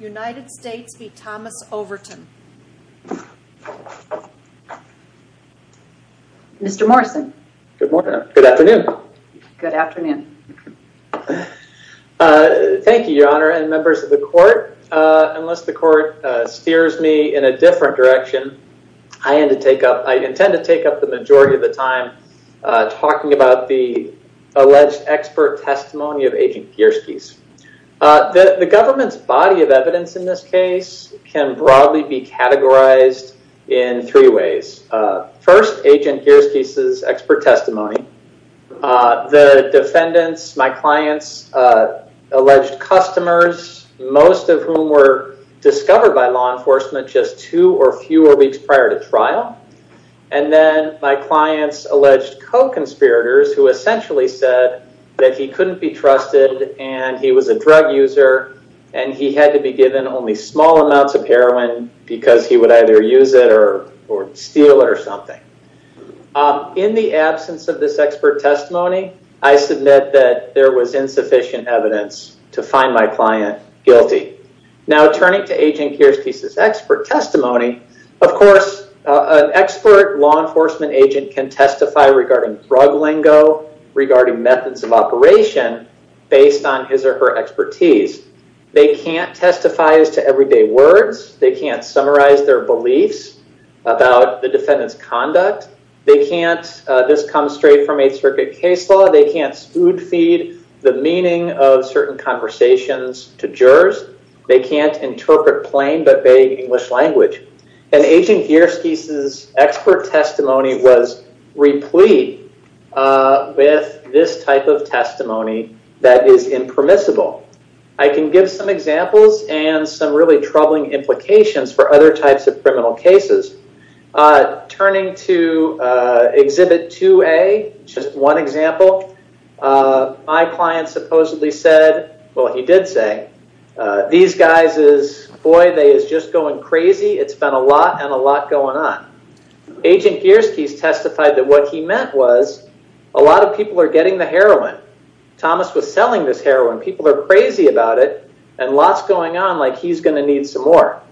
United States v. Thomas Overton. Mr. Morrison. Good morning. Good afternoon. Good afternoon. Thank you, your honor and members of the court. Unless the court steers me in a different direction, I intend to take up the majority of the time talking about the alleged expert testimony of Agent Gierske's. The government's body of evidence in this case can broadly be categorized in three ways. First, Agent Gierske's expert testimony. The defendants, my clients, alleged customers, most of whom were discovered by law enforcement just two or fewer weeks prior to trial. And then my clients alleged co-conspirators who essentially said that he couldn't be trusted and he was a drug user and he had to be given only small amounts of heroin because he would either use it or steal it or something. In the absence of this expert testimony, I submit that there was insufficient evidence to find my client guilty. Now, turning to Agent Gierske's expert testimony, of course, an expert law enforcement agent can testify regarding drug based on his or her expertise. They can't testify as to everyday words. They can't summarize their beliefs about the defendant's conduct. They can't, this comes straight from 8th Circuit case law, they can't food feed the meaning of certain conversations to jurors. They can't interpret plain but vague English language. And Agent Gierske's expert testimony was replete with this type of testimony that is impermissible. I can give some examples and some really troubling implications for other types of criminal cases. Turning to Exhibit 2A, just one example, my client supposedly said, well, he did say, these guys is, boy, they is just going crazy. It's been a lot and a lot going on. Agent Gierske's testified that what he meant was a lot of people are getting the heroin. Thomas was selling this heroin. People are crazy about it and lots going on like he's going to need some more.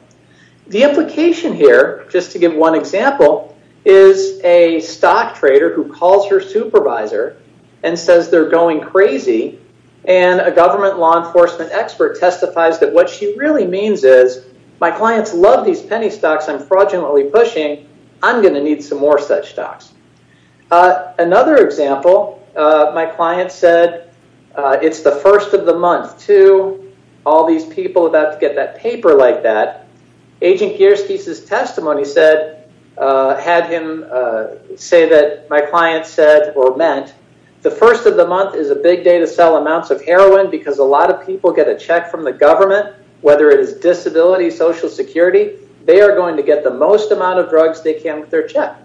The implication here, just to give one example, is a stock trader who calls her supervisor and says they're going crazy, and a government law enforcement expert testifies that what she really means is, my clients love these penny stocks I'm fraudulently pushing, I'm going to need some more such stocks. Another example, my client said, it's the first of the month, too, all these people about to get that paper like that. Agent Gierske's testimony said, had him say that my client said or meant, the first of the month is a big day to sell amounts of heroin because a lot of people get a check from the government, whether it is disability, social security, they are going get the most amount of drugs they can with their check.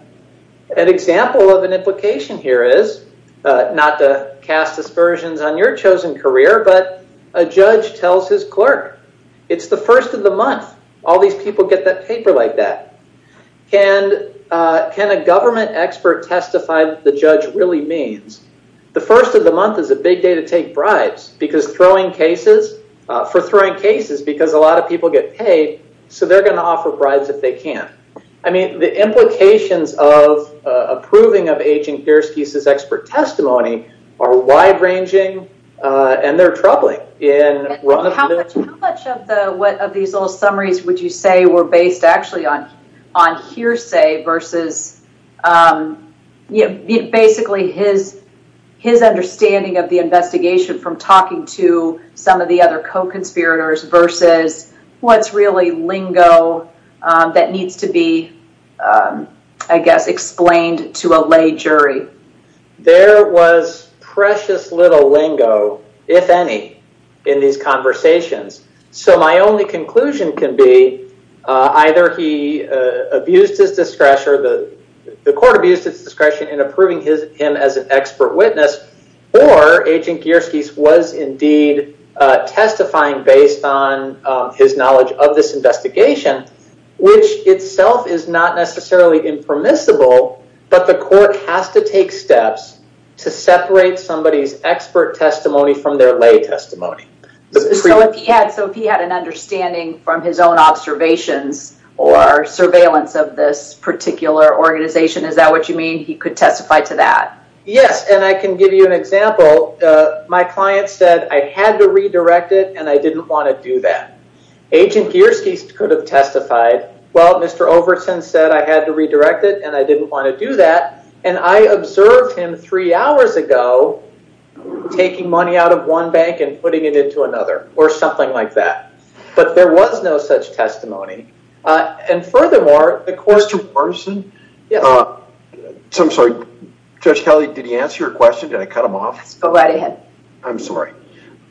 An example of an implication here is, not to cast aspersions on your chosen career, but a judge tells his clerk, it's the first of the month, all these people get that paper like that. Can a government expert testify what the judge really means? The first of the month is a big day to take bribes because throwing cases, for throwing cases because a lot of people get paid, so they are going to offer bribes if they can't. The implications of approving of Agent Gierske's expert testimony are wide ranging and they are troubling. How much of these little summaries would you say were based actually on hearsay versus basically his understanding of the investigation from talking to some of the other co-conspirators versus what's really lingo that needs to be, I guess, explained to a lay jury? There was precious little lingo, if any, in these conversations. So my only conclusion can be either he abused his discretion, the court abused its discretion in approving him as an expert witness or Agent Gierske was indeed testifying based on his knowledge of this investigation, which itself is not necessarily impermissible, but the court has to take steps to separate somebody's expert testimony from their lay testimony. So if he had an understanding from his own observations or surveillance of this particular organization, is that what you mean? He could testify to that? Yes, and I can give you an example. My client said I had to redirect it and I didn't want to do that. Agent Gierske could have testified, well, Mr. Overson said I had to redirect it and I didn't want to do that, and I observed him three hours ago taking money out of one bank and putting it into another or something like that. But there was no such testimony. And furthermore, the court- Go right ahead. I'm sorry.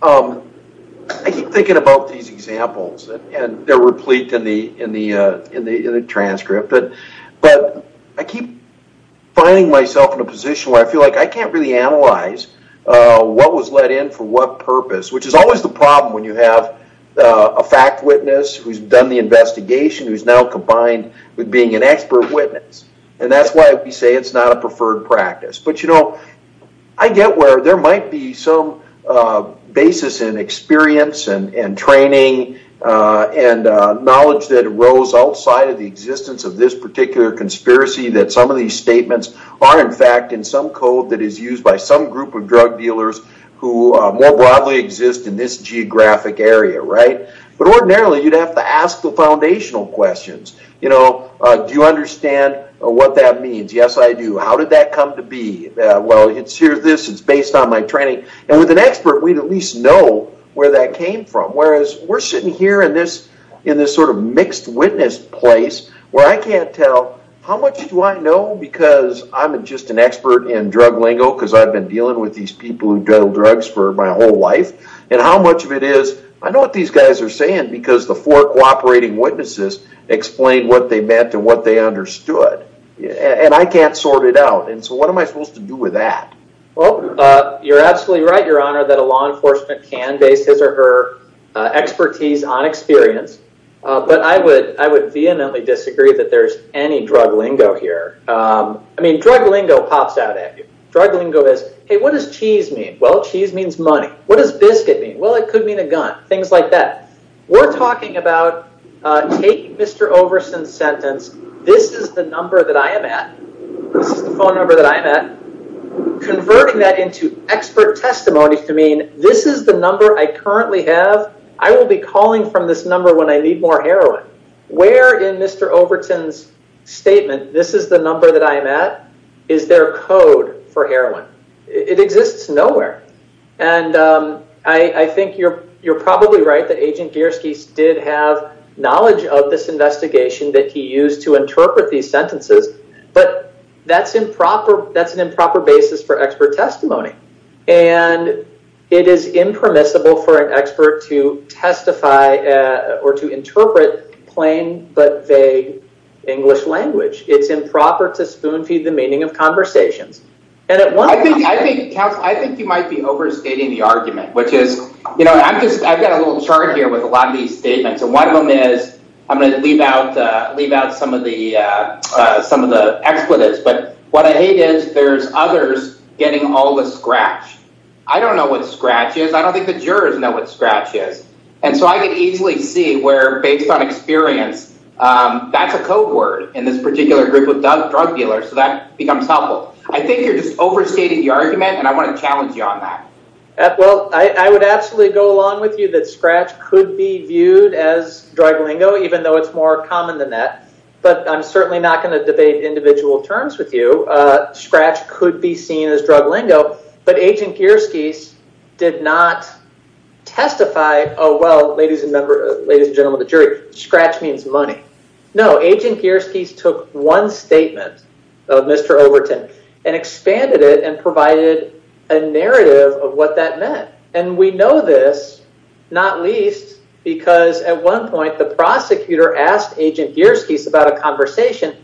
I keep thinking about these examples and they're replete in the transcript, but I keep finding myself in a position where I feel like I can't really analyze what was let in for what purpose, which is always the problem when you have a fact witness who's done the investigation, who's now combined with being an expert witness. And that's why we say it's not a preferred practice. But I get where there might be some basis in experience and training and knowledge that arose outside of the existence of this particular conspiracy that some of these statements are in fact in some code that is used by some group of drug dealers who more broadly exist in this geographic area, right? But ordinarily, you'd have to ask the foundational questions. Do you understand what that means? Yes, I do. How did that come to be? Well, here's this, it's based on my training. And with an expert, we'd at least know where that came from. Whereas we're sitting here in this sort of mixed witness place where I can't tell how much do I know because I'm just an expert in drug lingo because I've been dealing with these people who do drugs for my whole life, and how much of it is, I know what these guys are saying because the four cooperating witnesses explained what they meant and what they understood. And I can't sort it out. And so what am I supposed to do with that? Well, you're absolutely right, Your Honor, that a law enforcement can base his or her expertise on experience. But I would vehemently disagree that there's any drug lingo here. I mean, drug lingo pops out at you. Drug lingo is, hey, what does cheese mean? Well, cheese means money. What does biscuit mean? Well, it could mean a gun, things like that. We're talking about taking Mr. Overton's sentence, this is the number that I am at, this is the phone number that I'm at, converting that into expert testimony to mean this is the number I currently have, I will be calling from this number when I need more heroin. Where in Mr. Overton's statement, this is the number that I'm at, is there a code for heroin? It exists nowhere. And I think you're probably right that Agent Gierske did have knowledge of this investigation that he used to interpret these sentences. But that's an improper basis for expert testimony. And it is impermissible for an expert to testify or to interpret plain but vague English language. It's improper to spoon feed the meaning of conversations. And I think you might be overstating the argument, which is, you know, I've got a little chart here with a lot of these statements. And one of them is, I'm going to leave out some of the expletives. But what I hate is there's others getting all the scratch. I don't know what scratch is. I don't think the jurors know what scratch is. And so I can easily see where based on experience, that's a code word in this particular group of drug dealers. So that becomes humble. I think you're just overstating the argument, and I want to challenge you on that. Well, I would absolutely go along with you that scratch could be viewed as drug lingo, even though it's more common than that. But I'm certainly not going to debate individual terms with you. Scratch could be seen as drug lingo. But Agent Gierske did not testify, oh, well, ladies and gentlemen of the jury, scratch means money. No, Agent Gierske took one statement of Mr. Overton and expanded it and provided a narrative of what that meant. And we know this, not least because at one point, the prosecutor asked Agent Gierske about a conversation.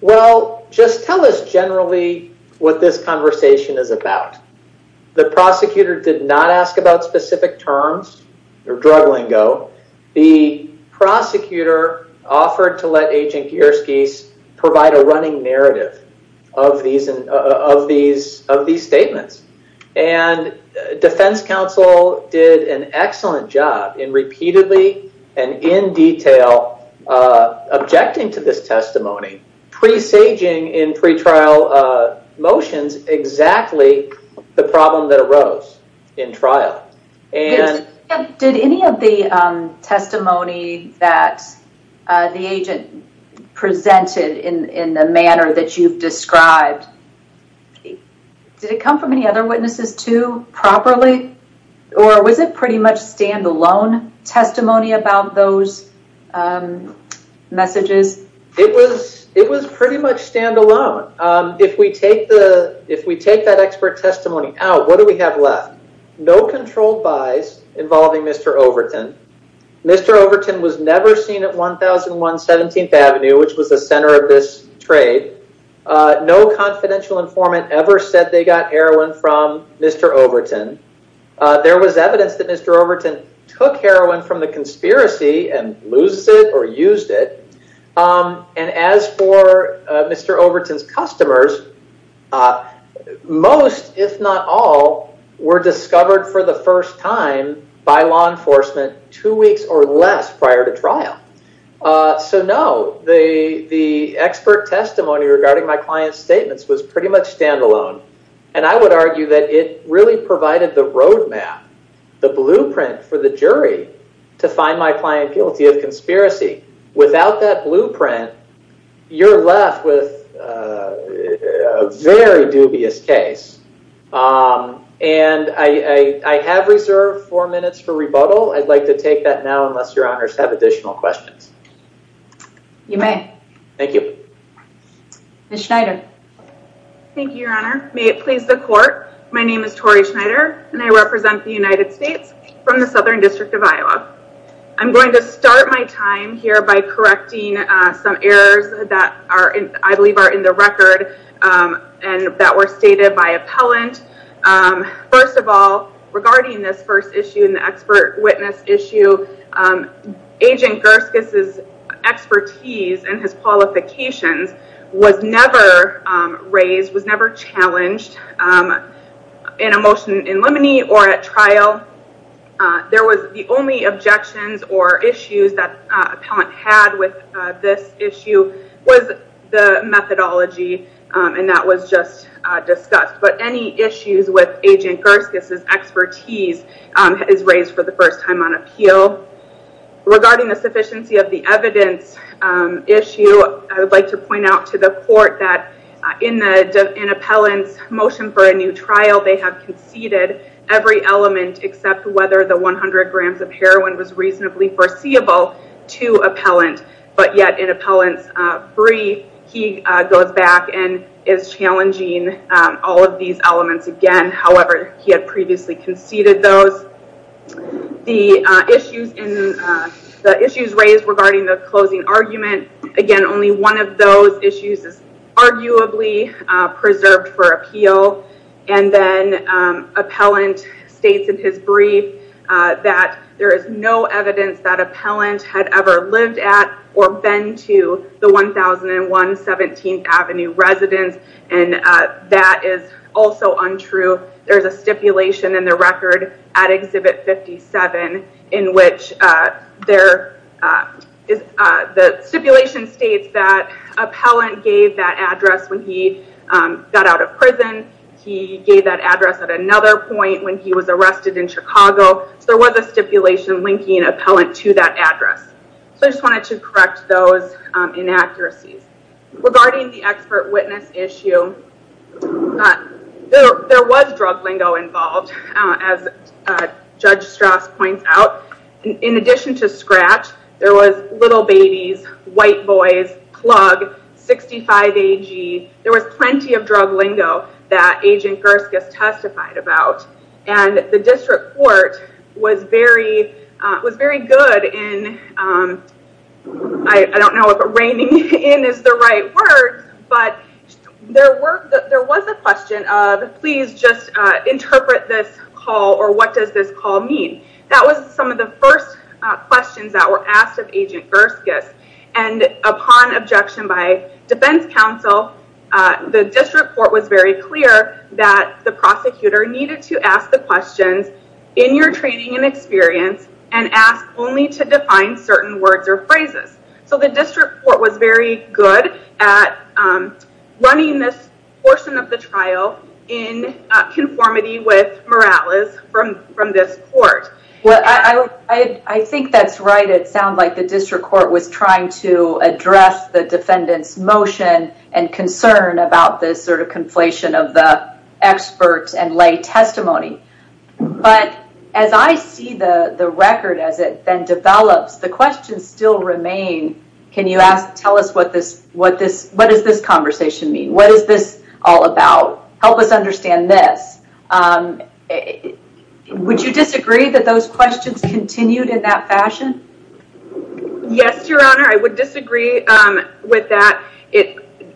Well, just tell us generally what this conversation is about. The prosecutor did not ask about specific terms or drug lingo. The prosecutor offered to let Agent Gierske provide a running narrative of these statements. And defense counsel did an excellent job in repeatedly and in detail objecting to this testimony, presaging in pretrial motions exactly the problem that arose in trial. Did any of the testimony that the agent presented in the manner that you've described, did it come from any other witnesses too, properly? Or was it pretty much standalone testimony about those messages? It was pretty much standalone. If we take that expert testimony out, what do we have left? No controlled buys involving Mr. Overton. Mr. Overton was never seen at 1001 17th Avenue, which was the center of this trade. No confidential informant ever said they got heroin from Mr. Overton. There was evidence that Mr. Overton took heroin from the conspiracy and loses it or used it. And as for Mr. Overton's customers, most, if not all, were discovered for the first time by law enforcement two weeks or less prior to trial. So no, the expert testimony regarding my client's statements was pretty much standalone. And I would argue that it really the blueprint for the jury to find my client guilty of conspiracy. Without that blueprint, you're left with a very dubious case. And I have reserved four minutes for rebuttal. I'd like to take that now unless your honors have additional questions. You may. Thank you. Ms. Schneider. Thank you, your honor. May it please the court. My name is Tori Schneider, and I represent the United States from the Southern District of Iowa. I'm going to start my time here by correcting some errors that I believe are in the record and that were stated by appellant. First of all, regarding this first issue in the expert witness issue, Agent Gerskis' expertise and his qualifications was never raised, was never challenged in a motion in limine or at trial. There was the only objections or issues that appellant had with this issue was the methodology, and that was just discussed. But any issues with Agent Gerskis' expertise is raised for the first time on appeal. Regarding the sufficiency of the evidence issue, I would like to point out to the court that in appellant's motion for a new trial, they have conceded every element except whether the 100 grams of heroin was reasonably foreseeable to appellant. But yet in appellant's brief, he goes back and is challenging all of these elements again. However, he had previously conceded those. The issues raised regarding the closing argument, again, only one of those issues is arguably preserved for appeal. And then appellant states in his brief that there is no evidence that appellant had ever lived at or been to the 1001 17th Avenue residence. And that is also untrue. There's a stipulation in the record at Exhibit 57 in which the stipulation states that appellant gave that address when he got out of prison. He gave that address at another point when he was arrested in Chicago. So there was a stipulation linking appellant to that address. So I just wanted to correct those inaccuracies. Regarding the expert witness issue, there was drug lingo involved, as Judge Strauss points out. In addition to Scratch, there was Little Babies, White Boys, Plug, 65AG. There was plenty of drug lingo that Agent Gerskis testified about. And the district court was very good in, I don't know if reigning in is the right word, but there was a question of, please just interpret this call or what does this call mean? That was some of the first questions that were asked of Agent Gerskis. And upon objection by defense counsel, the district court was very clear that the prosecutor needed to ask the questions in your training and experience and ask only to define certain words or phrases. So the district court was very good at running this portion of the trial in conformity with Morales from this court. Well, I think that's right. It sounds like the district court was trying to about this sort of conflation of the experts and lay testimony. But as I see the record as it then develops, the questions still remain, can you tell us what does this conversation mean? What is this all about? Help us understand this. Would you disagree that those questions continued in that fashion? Yes, Your Honor. I would disagree with that.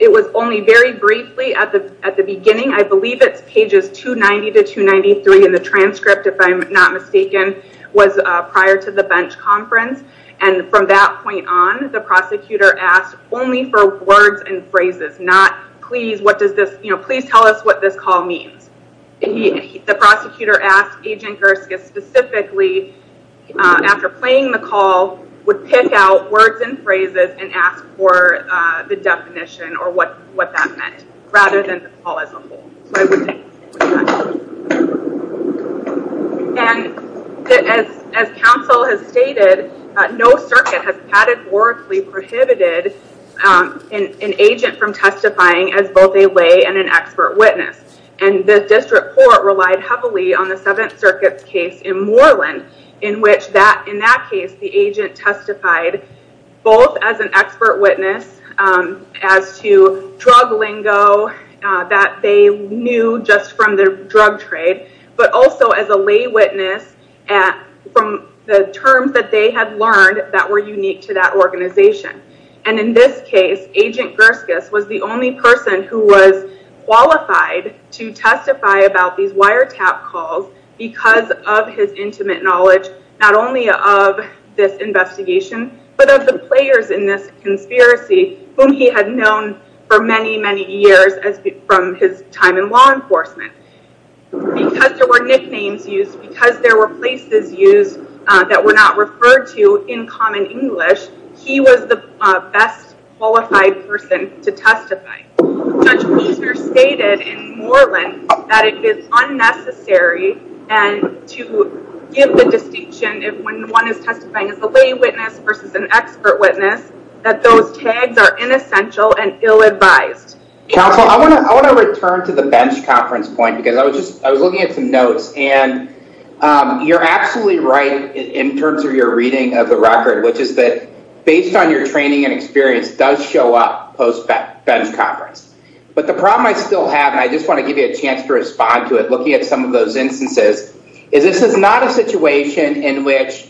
It was only very briefly at the beginning. I believe it's pages 290 to 293 in the transcript, if I'm not mistaken, was prior to the bench conference. And from that point on, the prosecutor asked only for words and phrases, not please tell us what this call means. The prosecutor asked Agent Gerskis specifically after playing the call would pick out words and ask for the definition or what that meant rather than the call as a whole. And as counsel has stated, no circuit has categorically prohibited an agent from testifying as both a lay and an expert witness. And the district court relied heavily on the Seventh Witness as to drug lingo that they knew just from the drug trade, but also as a lay witness from the terms that they had learned that were unique to that organization. And in this case, Agent Gerskis was the only person who was qualified to testify about these wiretap calls because of his intimate knowledge, not only of this investigation, but of the players in this conspiracy whom he had known for many, many years from his time in law enforcement. Because there were nicknames used, because there were places used that were not referred to in common English, he was the best qualified person to testify. Judge Weiser stated in Moreland that it is unnecessary to give the distinction if one is testifying as a lay witness versus an expert witness, that those tags are inessential and ill-advised. Counsel, I want to return to the bench conference point because I was just, I was looking at some notes and you're absolutely right in terms of your reading of the record, which is that based on your training and experience does show up post-bench conference. But the problem I still have, and I just want to give you a chance to respond to it, looking at some of those instances, is this is not a situation in which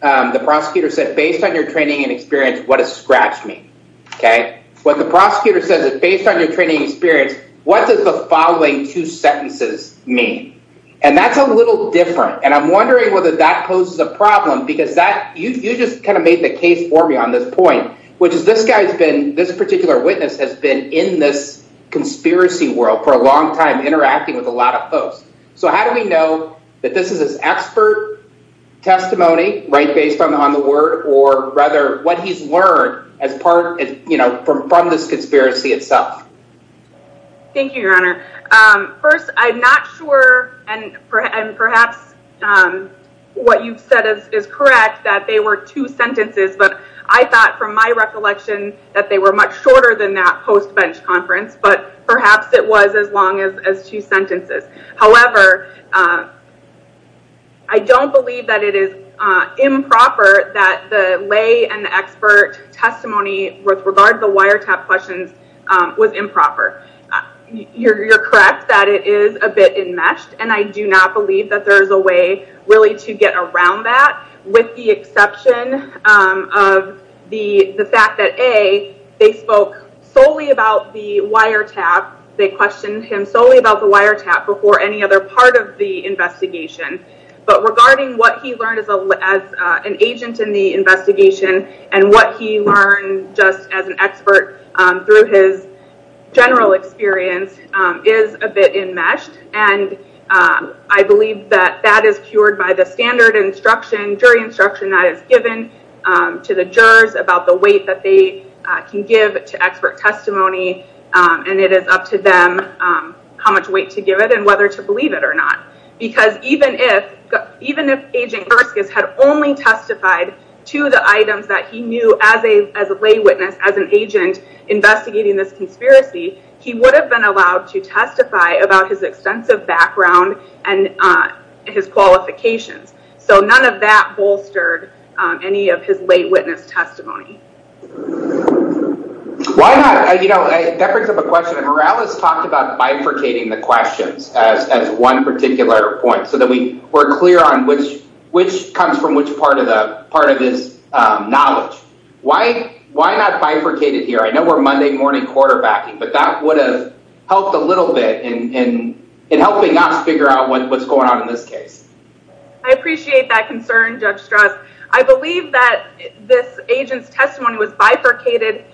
the prosecutor said, based on your training and experience, what does scratch mean? Okay, what the prosecutor says is, based on your training experience, what does the following two sentences mean? And that's a little different. And I'm wondering whether that poses a problem because that, you just kind of made the case for me on this point, which is this guy's been, this particular witness has been in this conspiracy world for a long time interacting with a lot of folks. So how do we know that this is his expert testimony, right, based on the word or rather what he's learned as part of, you know, from this conspiracy itself? Thank you, your honor. First, I'm not sure, and perhaps what you've said is correct, that they were two sentences, but I thought from my recollection that they were much shorter than that post-bench conference, but perhaps it was as long as two sentences. However, I don't believe that it is improper that the lay and expert testimony with regard to the wiretap questions was improper. You're correct that it is a bit enmeshed, and I do not believe that there was a question solely about the wiretap. They questioned him solely about the wiretap before any other part of the investigation. But regarding what he learned as an agent in the investigation and what he learned just as an expert through his general experience is a bit enmeshed. And I believe that that is cured by the standard instruction, jury instruction that is given to the jurors about the weight that they can give to expert testimony, and it is up to them how much weight to give it and whether to believe it or not. Because even if Agent Herskus had only testified to the items that he knew as a lay witness, as an agent investigating this conspiracy, he would have been allowed to testify about his extensive background and his qualifications. So, that bolstered any of his lay witness testimony. That brings up a question. Morales talked about bifurcating the questions as one particular point so that we're clear on which comes from which part of this knowledge. Why not bifurcate it here? I know we're Monday morning quarterbacking, but that would have helped a little bit in helping us figure out what's going on in this case. I appreciate that concern, Judge Strauss. I believe that this agent's testimony was bifurcated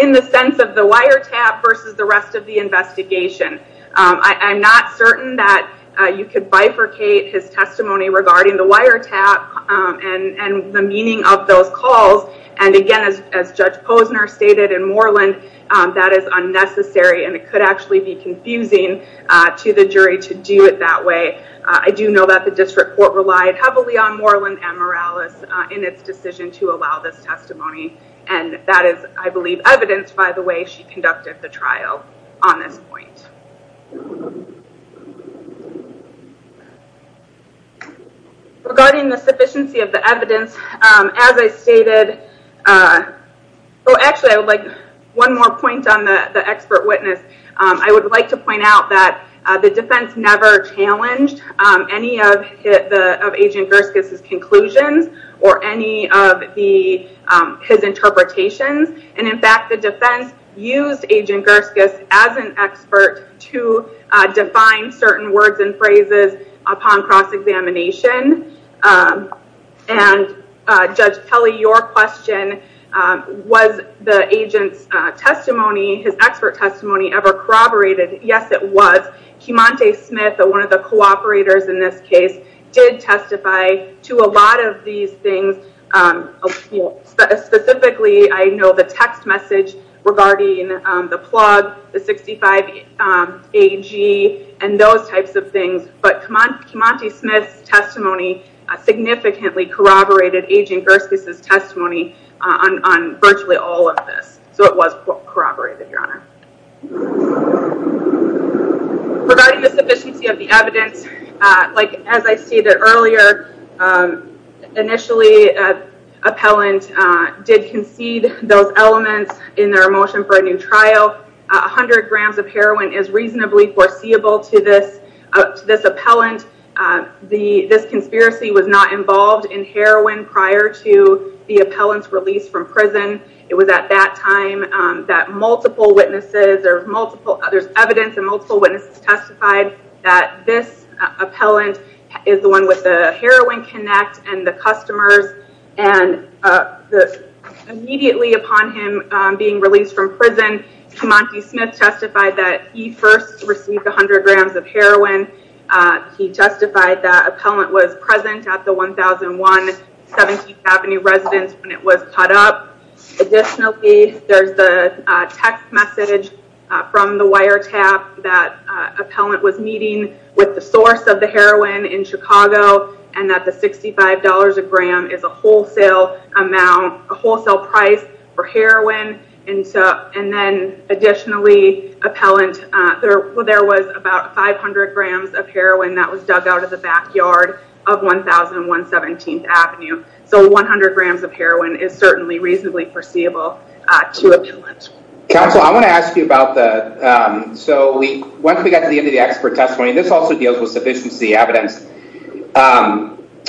in the sense of the wiretap versus the rest of the investigation. I'm not certain that you could bifurcate his testimony regarding the wiretap and the meaning of those calls. And again, as Judge Posner stated in Moreland, that is unnecessary and it could actually be confusing to the jury to do it that way. I do know that the district court relied heavily on Moreland and Morales in its decision to allow this testimony. And that is, I believe, evidenced by the way she conducted the trial on this point. Regarding the sufficiency of the evidence, as I stated... Actually, I would like one more point on the expert witness. I would like to point out that the defense never challenged any of Agent Gerskis' conclusions or any of his interpretations. And in fact, the defense used Agent Gerskis as an expert to define certain words and phrases upon cross-examination. And Judge Pelley, your question, was the agent's testimony, his expert testimony ever corroborated? Yes, it was. Kimonte Smith, one of the cooperators in this case, did testify to a lot of these regarding the plug, the 65AG, and those types of things. But Kimonte Smith's testimony significantly corroborated Agent Gerskis' testimony on virtually all of this. So it was corroborated, your honor. Regarding the sufficiency of the evidence, as I stated earlier, initially, appellant did concede those elements in their motion for a new trial. 100 grams of heroin is reasonably foreseeable to this appellant. This conspiracy was not involved in heroin prior to the appellant's release from prison. It was at that time that there's evidence and multiple witnesses testified that this appellant is the one with the heroin connect and the customers. And immediately upon him being released from prison, Kimonte Smith testified that he first received 100 grams of heroin. He justified that appellant was present at the 1001 17th Avenue residence when it was caught up. Additionally, there's the text message from the wiretap that appellant was meeting with the source of the heroin in Chicago, and that the $65 a gram is a wholesale amount, a wholesale price for heroin. And then additionally, appellant, there was about 500 grams of heroin that was dug out of the backyard of 1001 17th Avenue. So 100 grams of heroin is certainly reasonably foreseeable to an appellant. Counsel, I want to ask you about the, so once we got to the end of the expert testimony, this also deals with sufficiency evidence.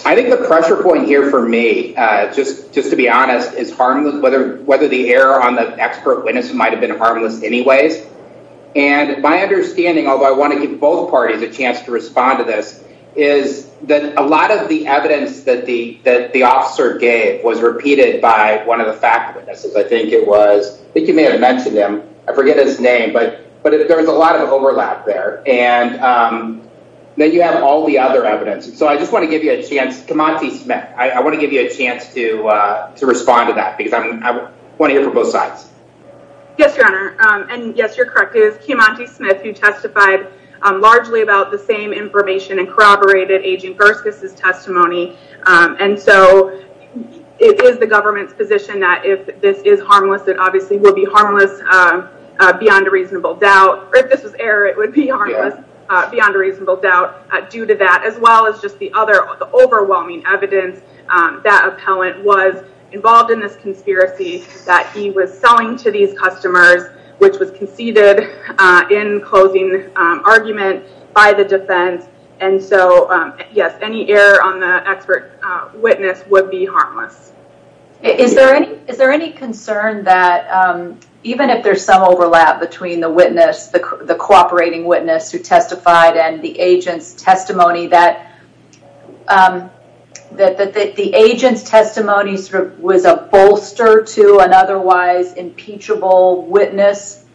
I think the pressure point here for me, just to be honest, is whether the error on the expert witness might have been harmless anyways. And my understanding, although I want to give both parties a chance to respond to this, is that a lot of the evidence that the officer gave was repeated by one of the fact witnesses. I think it was, I think you may have mentioned him, I forget his name, but there was a lot of overlap there. And then you have all the other evidence. So I just want to give you a chance, Kimanti Smith, I want to give you a chance to respond to that because I want to hear from both sides. Yes, your honor. And yes, you're correct. It was Kimanti Smith who testified largely about the same information and corroborated Agent Gerskus' testimony. And so it is the government's position that if this is harmless, it obviously will be harmless beyond a reasonable doubt. Or if this was error, it would be harmless beyond a reasonable doubt due to that, as well as just the other, the overwhelming evidence that appellant was involved in this conspiracy that he was selling to these customers, which was conceded in closing argument by the defense. And so yes, any error on the expert witness would be harmless. Is there any concern that even if there's some overlap between the witness, the cooperating witness who testified and the agent's testimony that the agent's testimony was a bolster to an otherwise impeachable witness,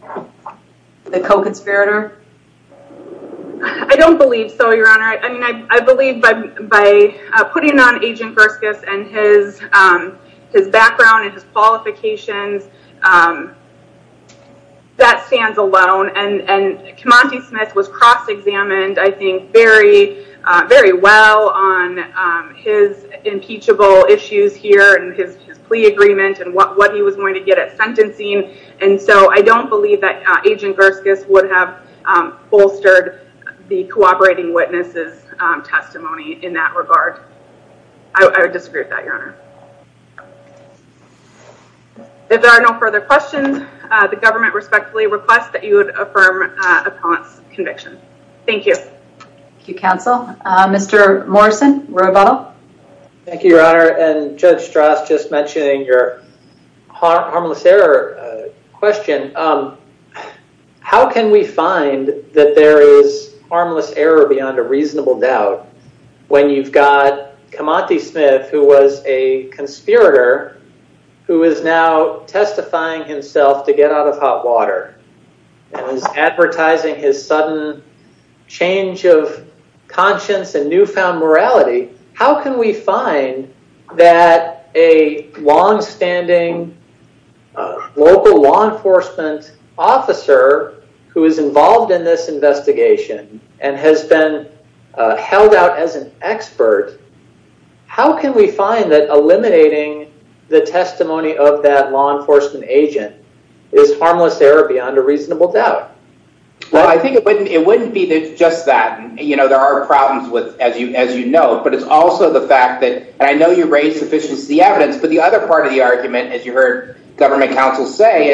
the co-conspirator? I don't believe so, your honor. I believe by putting on Agent Gerskus and his background and his qualifications, that stands alone. And Kimanti Smith was cross examined, I think, very well on his impeachable issues here and his plea agreement and what he was going to get at sentencing. And so I don't believe that Agent Gerskus would have bolstered the cooperating witness's testimony in that regard. I would disagree with that, your honor. If there are no further questions, the government respectfully requests that you would affirm appellant's conviction. Thank you. Thank you, counsel. Mr. Morrison. Thank you, your honor. And Judge Strauss just mentioning your harmless error question. How can we find that there is harmless error beyond a reasonable doubt when you've got Kimanti Smith, who was a conspirator, who is now testifying himself to get out of hot water and is advertising his sudden change of conscience and newfound morality, how can we find that a longstanding local law enforcement officer who is involved in this investigation and has been held out as an expert, how can we find that eliminating the testimony of that law enforcement agent is harmless error beyond a reasonable doubt? Well, I think it wouldn't be just that. There are problems with, as you know, but it's also the fact that I know you raised sufficient evidence, but the other part of the argument, as you heard government counsel say,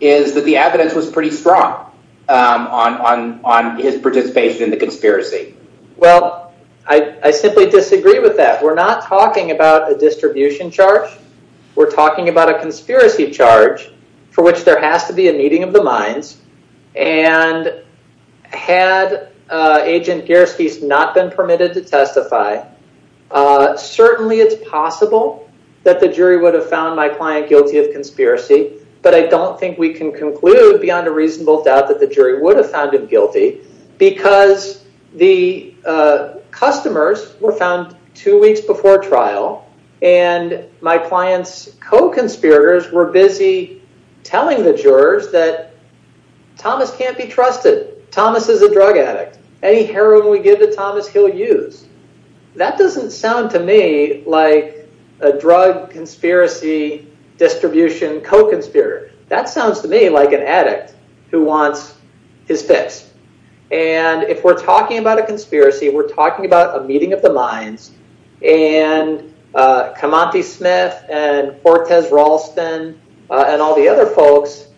is that the evidence was pretty strong on his participation in the conspiracy. Well, I simply disagree with that. We're not talking about a distribution charge. We're talking about a conspiracy charge for which there has to be a meeting of the minds. And had Agent Gierske's not been permitted to testify, certainly it's possible that the jury would have found my client guilty of conspiracy. But I don't think we can conclude beyond a reasonable doubt that the jury would have been guilty because the customers were found two weeks before trial and my client's co-conspirators were busy telling the jurors that Thomas can't be trusted. Thomas is a drug addict. Any heroin we give to Thomas, he'll use. That doesn't sound to me like a drug conspiracy distribution co-conspirator. That sounds to me like an addict who wants his fix. And if we're talking about a conspiracy, we're talking about a meeting of the minds, and Camonte Smith and Hortense Ralston and all the other folks,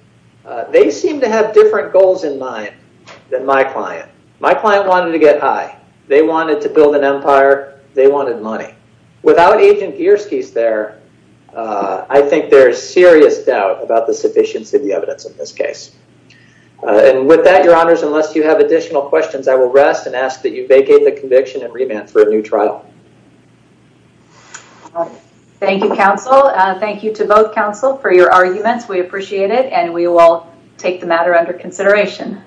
they seem to have different goals in mind than my client. My client wanted to get high. They wanted to build an empire. They wanted money. Without Agent Gierske's there, I think there's serious doubt about the sufficiency of the evidence in this case. And with that, your honors, unless you have additional questions, I will rest and ask that you vacate the conviction and remand for a new trial. Thank you, counsel. Thank you to both counsel for your arguments. We appreciate it and we will take the matter under consideration.